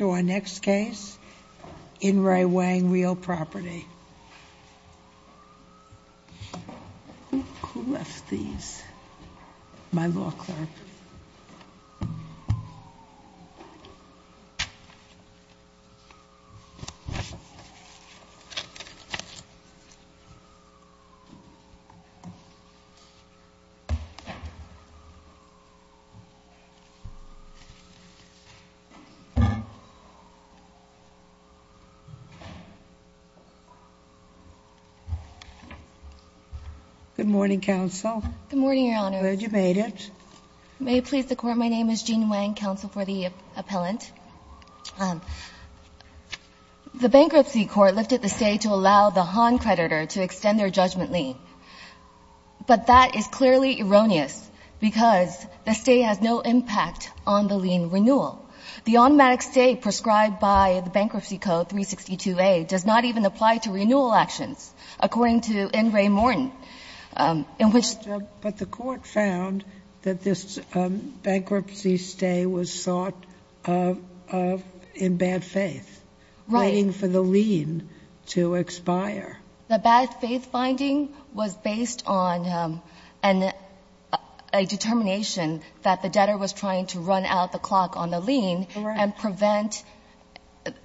To our next case, In Re. Wang Real Property. Who left these? My law clerk. Good morning, counsel. Good morning, Your Honor. I'm glad you made it. May it please the court, my name is Jean Wang, counsel for the appellant. The bankruptcy court lifted the stay to allow the Han creditor to extend their judgment lien. But that is clearly erroneous, because the stay has no impact on the lien renewal. The automatic stay prescribed by the Bankruptcy Code 362A does not even apply to renewal actions, according to In Re. Morton, in which the court found that this bankruptcy stay was sought in bad faith, waiting for the lien to expire. The bad faith finding was based on a determination that the debtor was trying to run out the clock on the lien and prevent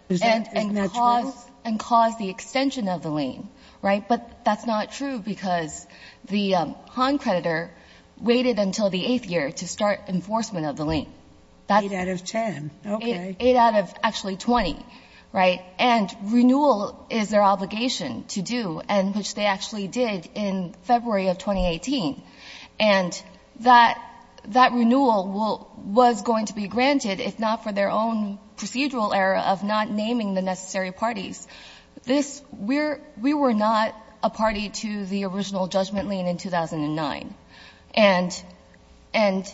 and cause the extension of the lien. Right? But that's not true, because the Han creditor waited until the eighth year to start enforcement of the lien. Eight out of ten. Okay. Eight out of actually 20. Right? And renewal is their obligation to do, and which they actually did in February of 2018. And that renewal was going to be granted, if not for their own procedural error of not naming the necessary parties. We were not a party to the original judgment lien in 2009. And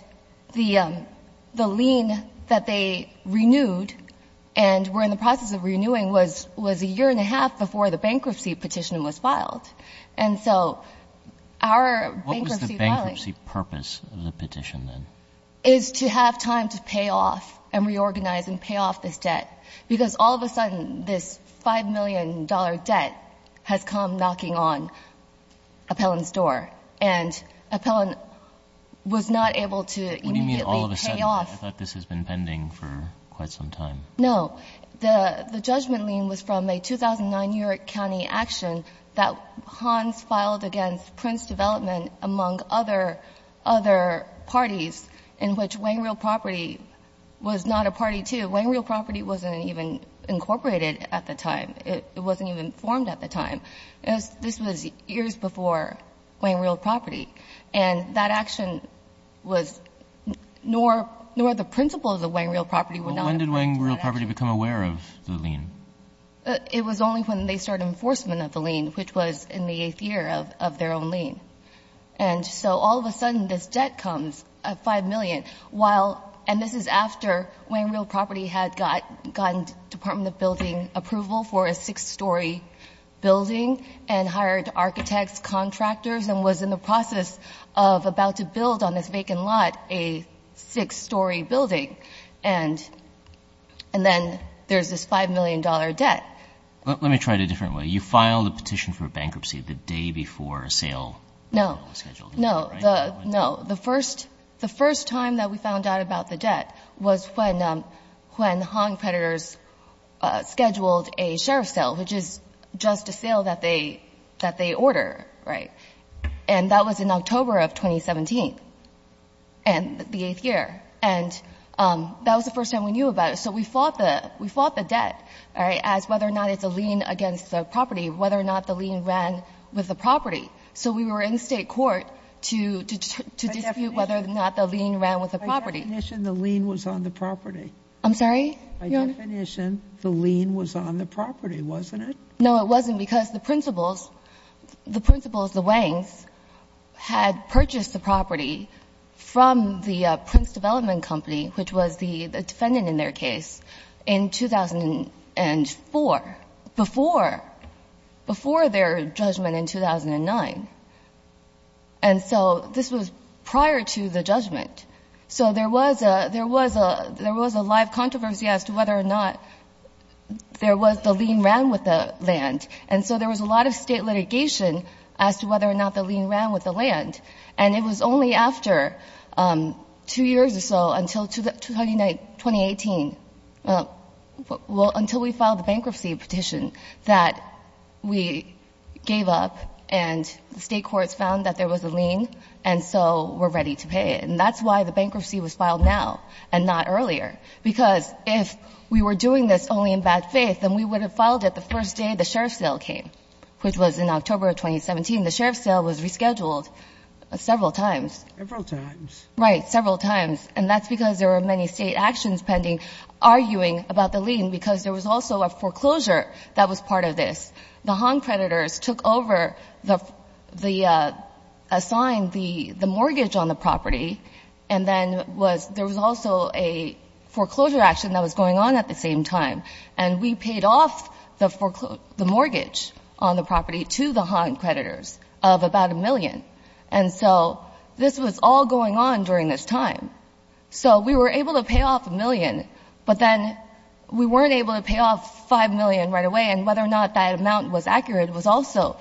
the lien that they renewed, and were in the process of renewing, was a year and a half before the bankruptcy petition was filed. And so our bankruptcy filing — What was the bankruptcy purpose of the petition, then? — is to have time to pay off and reorganize and pay off this debt, because all of a sudden this $5 million debt has come knocking on Appellant's door. And Appellant was not able to immediately pay off. What do you mean all of a sudden? I thought this has been pending for quite some time. No. The judgment lien was from a 2009 New York County action that Hans filed against Prince Development, among other, other parties, in which Wangreal Property was not a party to. Wangreal Property wasn't even incorporated at the time. It wasn't even formed at the time. This was years before Wangreal Property. And that action was — nor the principles of Wangreal Property were not applied to that. Well, when did Wangreal Property become aware of the lien? It was only when they started enforcement of the lien, which was in the eighth year of their own lien. And so all of a sudden this debt comes, $5 million, while — and this is after Wangreal Property had gotten Department of Building approval for a six-story building and hired architects, contractors, and was in the process of about to build on this vacant lot a six-story building. And then there's this $5 million debt. Let me try it a different way. You filed a petition for bankruptcy the day before a sale was scheduled. No. No. No. The first time that we found out about the debt was when Hong Predators scheduled a sheriff's sale, which is just a sale that they — that they order, right? And that was in October of 2017, the eighth year. And that was the first time we knew about it. So we fought the — we fought the debt, all right, as whether or not it's a lien against the property, whether or not the lien ran with the property. So we were in State court to dispute whether or not the lien ran with the property. I definition the lien was on the property. I'm sorry? Your Honor? The lien was on the property, wasn't it? No, it wasn't, because the principals — the principals, the Wangs, had purchased the property from the Prince Development Company, which was the defendant in their case, in 2004, before — before their judgment in 2009. And so this was prior to the judgment. So there was a — there was a — there was a live controversy as to whether or not there was — the lien ran with the land. And so there was a lot of State litigation as to whether or not the lien ran with the land. And it was only after two years or so, until 2018 — well, until we filed the bankruptcy petition that we gave up, and the State courts found that there was a That's why the bankruptcy was filed now and not earlier. Because if we were doing this only in bad faith, then we would have filed it the first day the sheriff's sale came, which was in October of 2017. The sheriff's sale was rescheduled several times. Several times. Right, several times. And that's because there were many State actions pending arguing about the lien, because there was also a foreclosure that was part of this. The Hahn creditors took over the — assigned the mortgage on the property, and then was — there was also a foreclosure action that was going on at the same time. And we paid off the mortgage on the property to the Hahn creditors of about a million. And so this was all going on during this time. So we were able to pay off a million, but then we weren't able to pay off five million right away, and whether or not that amount was accurate was also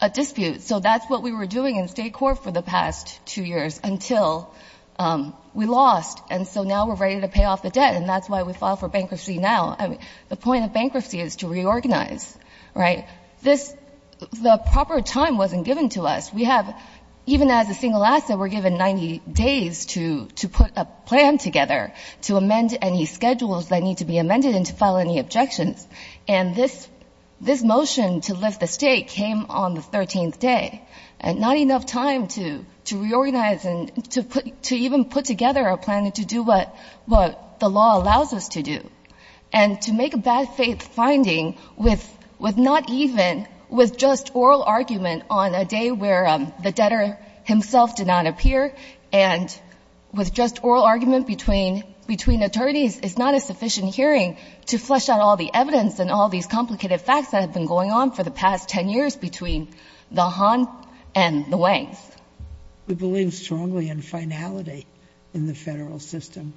a dispute. So that's what we were doing in State court for the past two years until we lost. And so now we're ready to pay off the debt, and that's why we file for bankruptcy now. I mean, the point of bankruptcy is to reorganize, right? This — the proper time wasn't given to us. We have — even as a single asset, we're given 90 days to put a plan together to amend any schedules that need to be amended and to file any objections. And this — this motion to lift the stake came on the 13th day, and not enough time to — to reorganize and to put — to even put together a plan to do what — what the law allows us to do, and to make a bad-faith finding with — with not even — with just oral argument on a day where the debtor himself did not appear, and with just oral argument between — between attorneys is not a sufficient hearing to flesh out all the evidence and all these complicated facts that have been going on for the past 10 years between the Han and the Wangs. We believe strongly in finality in the Federal system.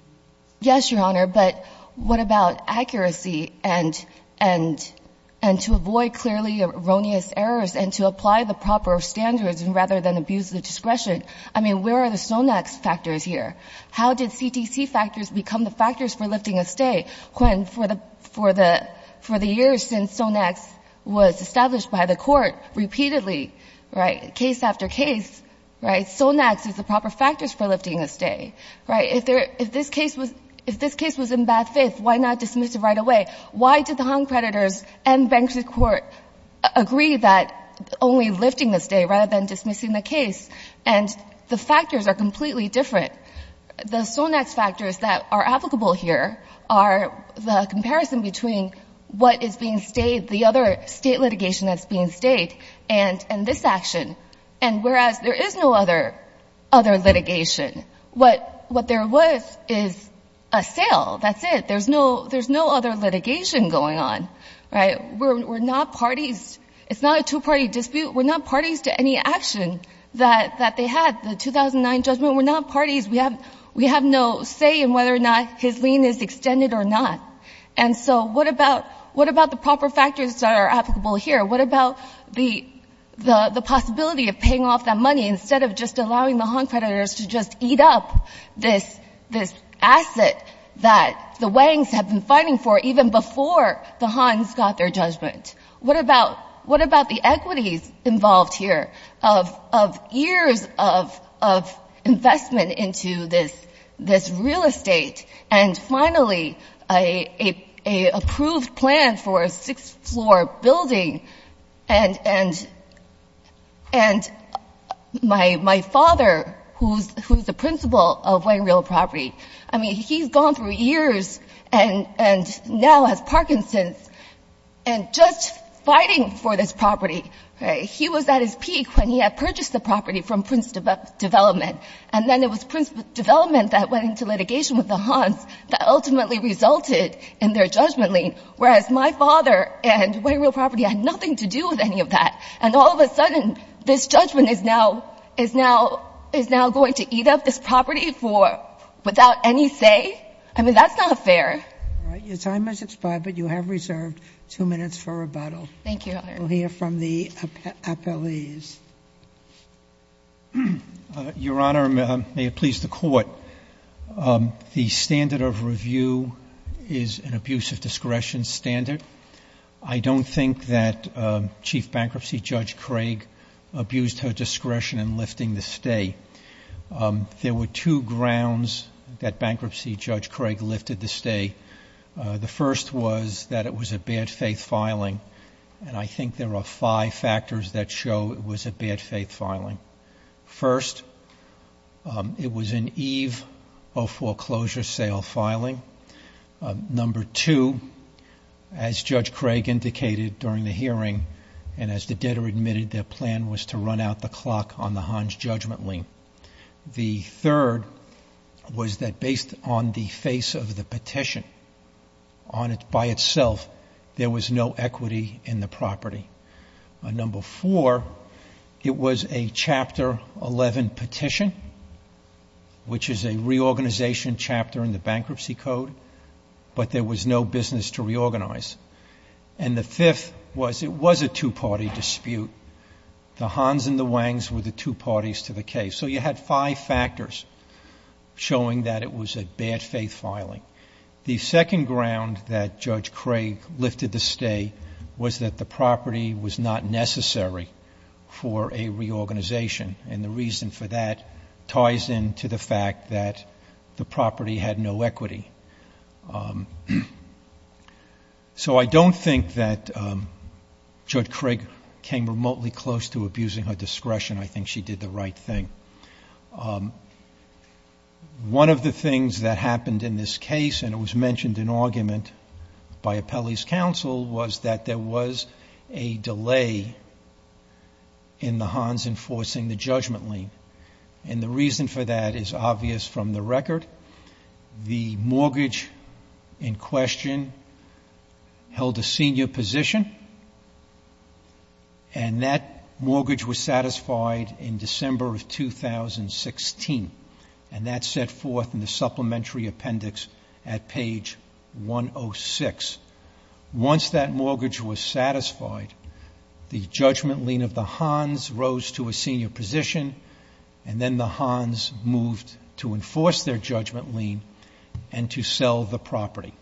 Yes, Your Honor, but what about accuracy and — and — and to avoid clearly erroneous errors and to apply the proper standards rather than abuse the discretion? I mean, where are the Sonex factors here? How did CTC factors become the factors for lifting a stay when, for the — for the — for the years since Sonex was established by the Court repeatedly, right, case after case, right, Sonex is the proper factors for lifting a stay, right? If there — if this case was — if this case was in bad faith, why not dismiss it right away? Why did the Han creditors and Banksy Court agree that only lifting the stay rather than dismissing the case? And the factors are completely different. The Sonex factors that are applicable here are the comparison between what is being stayed, the other state litigation that's being stayed, and — and this action. And whereas there is no other — other litigation, what — what there was is a sale. That's it. There's no — there's no other litigation going on, right? We're — we're not parties. It's not a two-party dispute. We're not parties to any action that — that they had. The 2009 judgment, we're not parties. We have — we have no say in whether or not his lien is extended or not. And so what about — what about the proper factors that are applicable here? What about the — the possibility of paying off that money instead of just allowing the Han creditors to just eat up this — this asset that the Wangs have been fighting for even before the Hans got their judgment? What about — what about the equities involved here of — of years of — of investment into this — this real estate? And finally, a — a — a approved plan for a six-floor building. And — and — and my — my father, who's — who's the principal of Wang Real Property, I mean, he's gone through years and — and now has Parkinson's and just fighting for this property, right? He was at his peak when he had purchased the property from Prince Development. And then it was Prince Development that went into litigation with the Hans that ultimately resulted in their judgment lien, whereas my father and Wang Real Property had nothing to do with any of that. And all of a sudden, this judgment is now — is now — is now going to eat up this I mean, that's not fair. All right. Your time has expired, but you have reserved two minutes for rebuttal. Thank you, Your Honor. We'll hear from the appellees. Your Honor, may it please the Court, the standard of review is an abuse of discretion standard. I don't think that Chief Bankruptcy Judge Craig abused her discretion in lifting the stay. There were two grounds that Bankruptcy Judge Craig lifted the stay. The first was that it was a bad faith filing, and I think there are five factors that show it was a bad faith filing. First, it was an eve of foreclosure sale filing. Number two, as Judge Craig indicated during the hearing, and as the debtor admitted, their plan was to run out the clock on the Hans judgment lien. The third was that based on the face of the petition, on it by itself, there was no equity in the property. Number four, it was a Chapter 11 petition, which is a reorganization chapter in the Bankruptcy Code, but there was no business to reorganize. And the fifth was it was a two-party dispute. The Hans and the Wangs were the two parties to the case. So you had five factors showing that it was a bad faith filing. The second ground that Judge Craig lifted the stay was that the property was not necessary for a reorganization, and the reason for that ties into the fact that the property had no equity. So I don't think that Judge Craig came remotely close to abusing her discretion. I think she did the right thing. One of the things that happened in this case, and it was mentioned in argument by Appelli's counsel, was that there was a delay in the Hans enforcing the judgment lien. And the reason for that is obvious from the record. The mortgage in question held a senior position, and that mortgage was satisfied in December of 2016. And that set forth in the supplementary appendix at page 106. Once that mortgage was satisfied, the judgment lien of the Hans rose to a and to sell the property.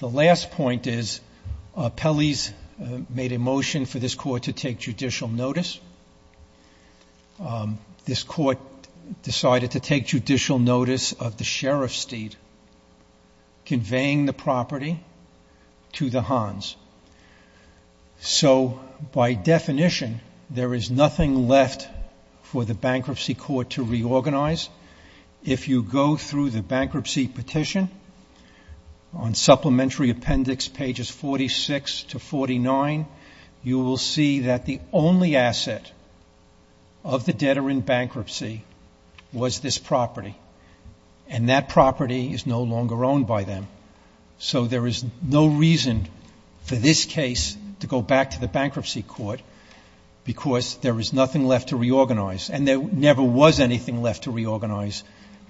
The last point is Appelli's made a motion for this court to take judicial notice. This court decided to take judicial notice of the sheriff's deed, conveying the property to the Hans. So by definition, there is nothing left for the bankruptcy court to reorganize. If you go through the bankruptcy petition on supplementary appendix pages 46 to 49, you will see that the only asset of the debtor in bankruptcy was this property. And that property is no longer owned by them. So there is no reason for this case to go back to the bankruptcy court because there is nothing left to reorganize. And there never was anything left to reorganize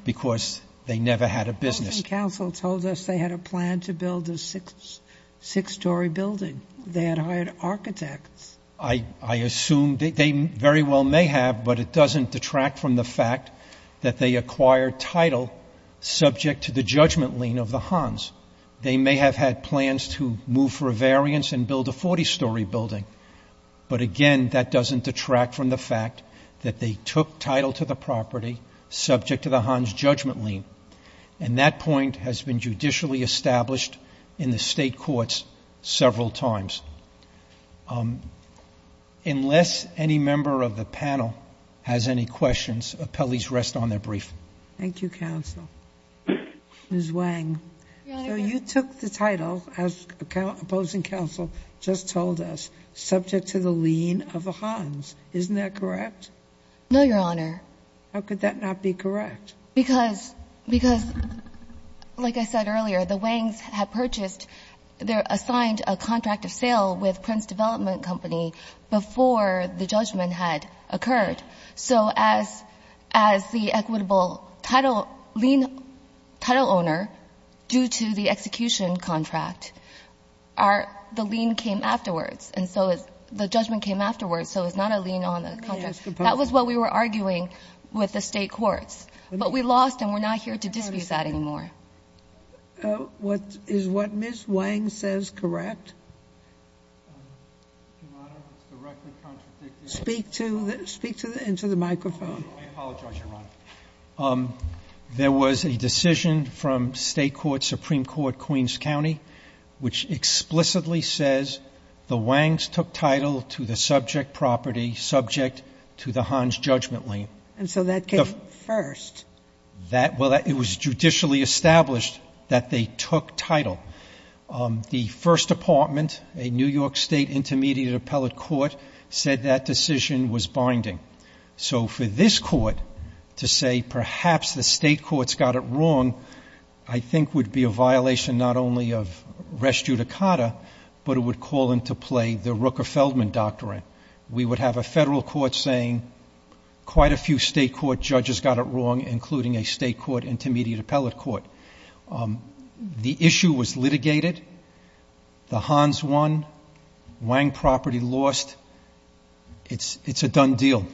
because they never had a business. Sotomayor's counsel told us they had a plan to build a six-story building. They had hired architects. I assume they very well may have, but it doesn't detract from the fact that they acquired title subject to the judgment lien of the Hans. They may have had plans to move for a variance and build a 40-story building. But again, that doesn't detract from the fact that they took title to the property subject to the Hans judgment lien. And that point has been judicially established in the state courts several times. Unless any member of the panel has any questions, appellees rest on their brief. Thank you, counsel. Ms. Wang. So you took the title, as opposing counsel just told us, subject to the lien of the Hans. Isn't that correct? No, Your Honor. How could that not be correct? Because, like I said earlier, the Wangs had purchased, they assigned a contract of sale with Prince Development Company before the judgment had occurred. So as the equitable title lien, title owner, due to the execution contract, the lien came afterwards. And so the judgment came afterwards, so it's not a lien on the contract. That was what we were arguing with the state courts. But we lost, and we're not here to dispute that anymore. Is what Ms. Wang says correct? Your Honor, it's directly contradicting. Speak into the microphone. I apologize, Your Honor. There was a decision from state court, Supreme Court, Queens County, which explicitly says the Wangs took title to the subject property subject to the Hans judgment lien. And so that came first. Well, it was judicially established that they took title. The First Department, a New York State intermediate appellate court, said that decision was binding. So for this court to say perhaps the state courts got it wrong, I think would be a violation not only of res judicata, but it would call into play the Rooker-Feldman Doctrine. We would have a federal court saying quite a few state court judges got it wrong, including a state court intermediate appellate court. The issue was litigated. The Hans won. Wang property lost. It's a done deal.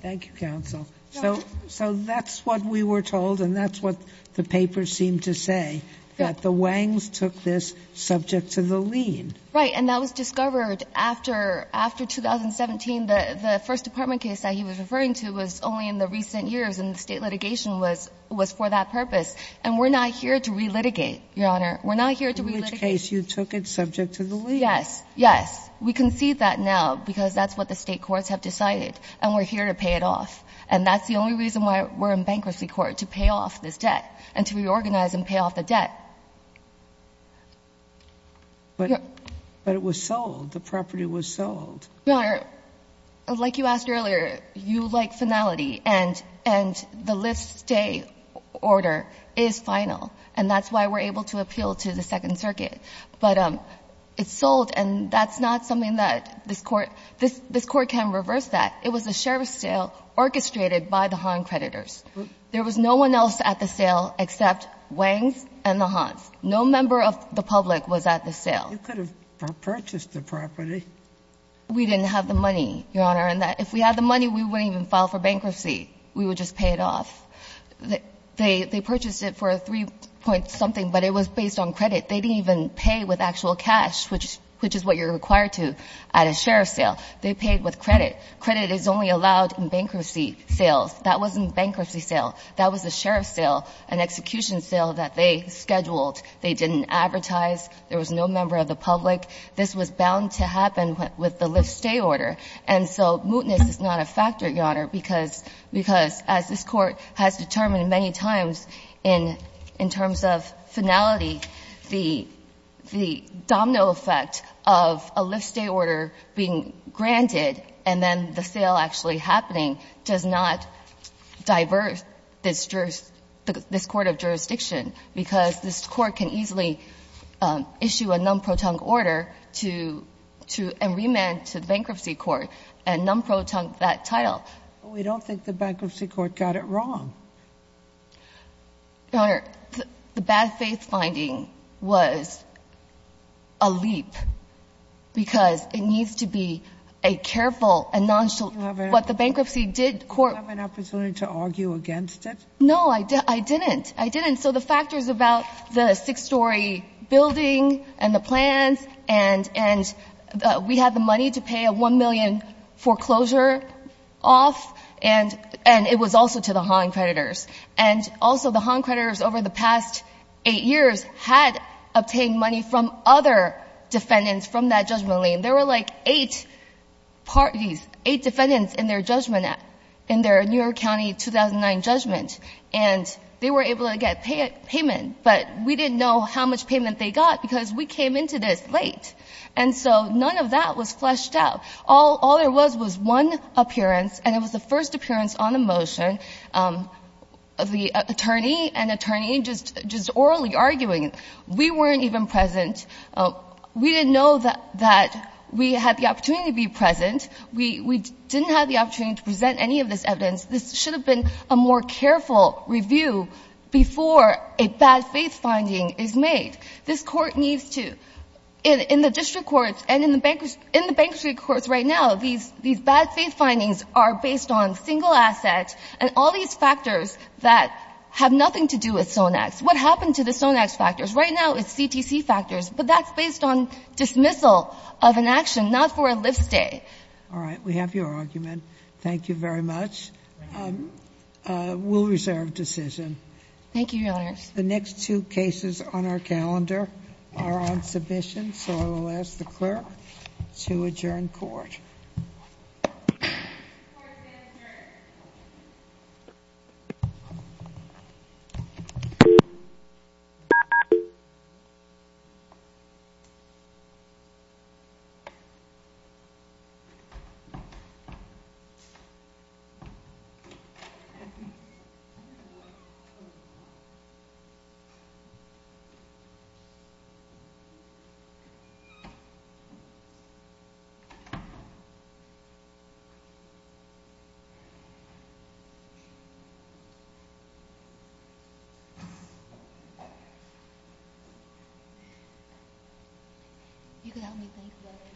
Thank you, counsel. So that's what we were told, and that's what the paper seemed to say, that the Wangs took this subject to the lien. Right, and that was discovered after 2017. The First Department case that he was referring to was only in the recent years, and the state litigation was for that purpose. And we're not here to relitigate, Your Honor. We're not here to relitigate. In which case you took it subject to the lien. Yes. Yes. We concede that now because that's what the state courts have decided, and we're here to pay it off. And that's the only reason why we're in bankruptcy court, to pay off this debt and to reorganize and pay off the debt. But it was sold. The property was sold. Your Honor, like you asked earlier, you like finality, and the list stay order is final, and that's why we're able to appeal to the Second Circuit. But it's sold, and that's not something that this Court can reverse that. It was a sheriff's sale orchestrated by the Han creditors. There was no one else at the sale except Wangs and the Hans. No member of the public was at the sale. You could have purchased the property. We didn't have the money, Your Honor. And if we had the money, we wouldn't even file for bankruptcy. We would just pay it off. They purchased it for 3-point-something, but it was based on credit. They didn't even pay with actual cash, which is what you're required to at a sheriff's sale. They paid with credit. Credit is only allowed in bankruptcy sales. That wasn't bankruptcy sale. That was a sheriff's sale, an execution sale that they scheduled. They didn't advertise. There was no member of the public. This was bound to happen with the list stay order. And so mootness is not a factor, Your Honor, because as this Court has determined many times in terms of finality, the domino effect of a list stay order being granted and then the sale actually happening does not divert this court of jurisdiction because this court can easily issue a non-protong order and remand to the bankruptcy court and non-protong that title. But we don't think the bankruptcy court got it wrong. Your Honor, the bad faith finding was a leap because it needs to be a careful and nonchalant what the bankruptcy did court. Do you have an opportunity to argue against it? No, I didn't. I didn't. So the factors about the six-story building and the plans and we had the money to pay a $1 million foreclosure off, and it was also to the Hahn creditors. And also the Hahn creditors over the past eight years had obtained money from other defendants from that judgmental lien. There were like eight parties, eight defendants in their judgment, in their New York County 2009 judgment, and they were able to get payment. But we didn't know how much payment they got because we came into this late. And so none of that was fleshed out. All there was was one appearance, and it was the first appearance on the motion of the attorney, an attorney just orally arguing. We weren't even present. We didn't know that we had the opportunity to be present. We didn't have the opportunity to present any of this evidence. This should have been a more careful review before a bad faith finding is made. This Court needs to, in the district courts and in the bankruptcy courts right now, these bad faith findings are based on single assets and all these factors that have nothing to do with Sonex. What happened to the Sonex factors? Right now it's CTC factors. But that's based on dismissal of an action, not for a live stay. All right. We have your argument. Thank you very much. We'll reserve decision. Thank you, Your Honors. The next two cases on our calendar are on submission. So I will ask the clerk to adjourn court. Court is adjourned. You can help me thank the others.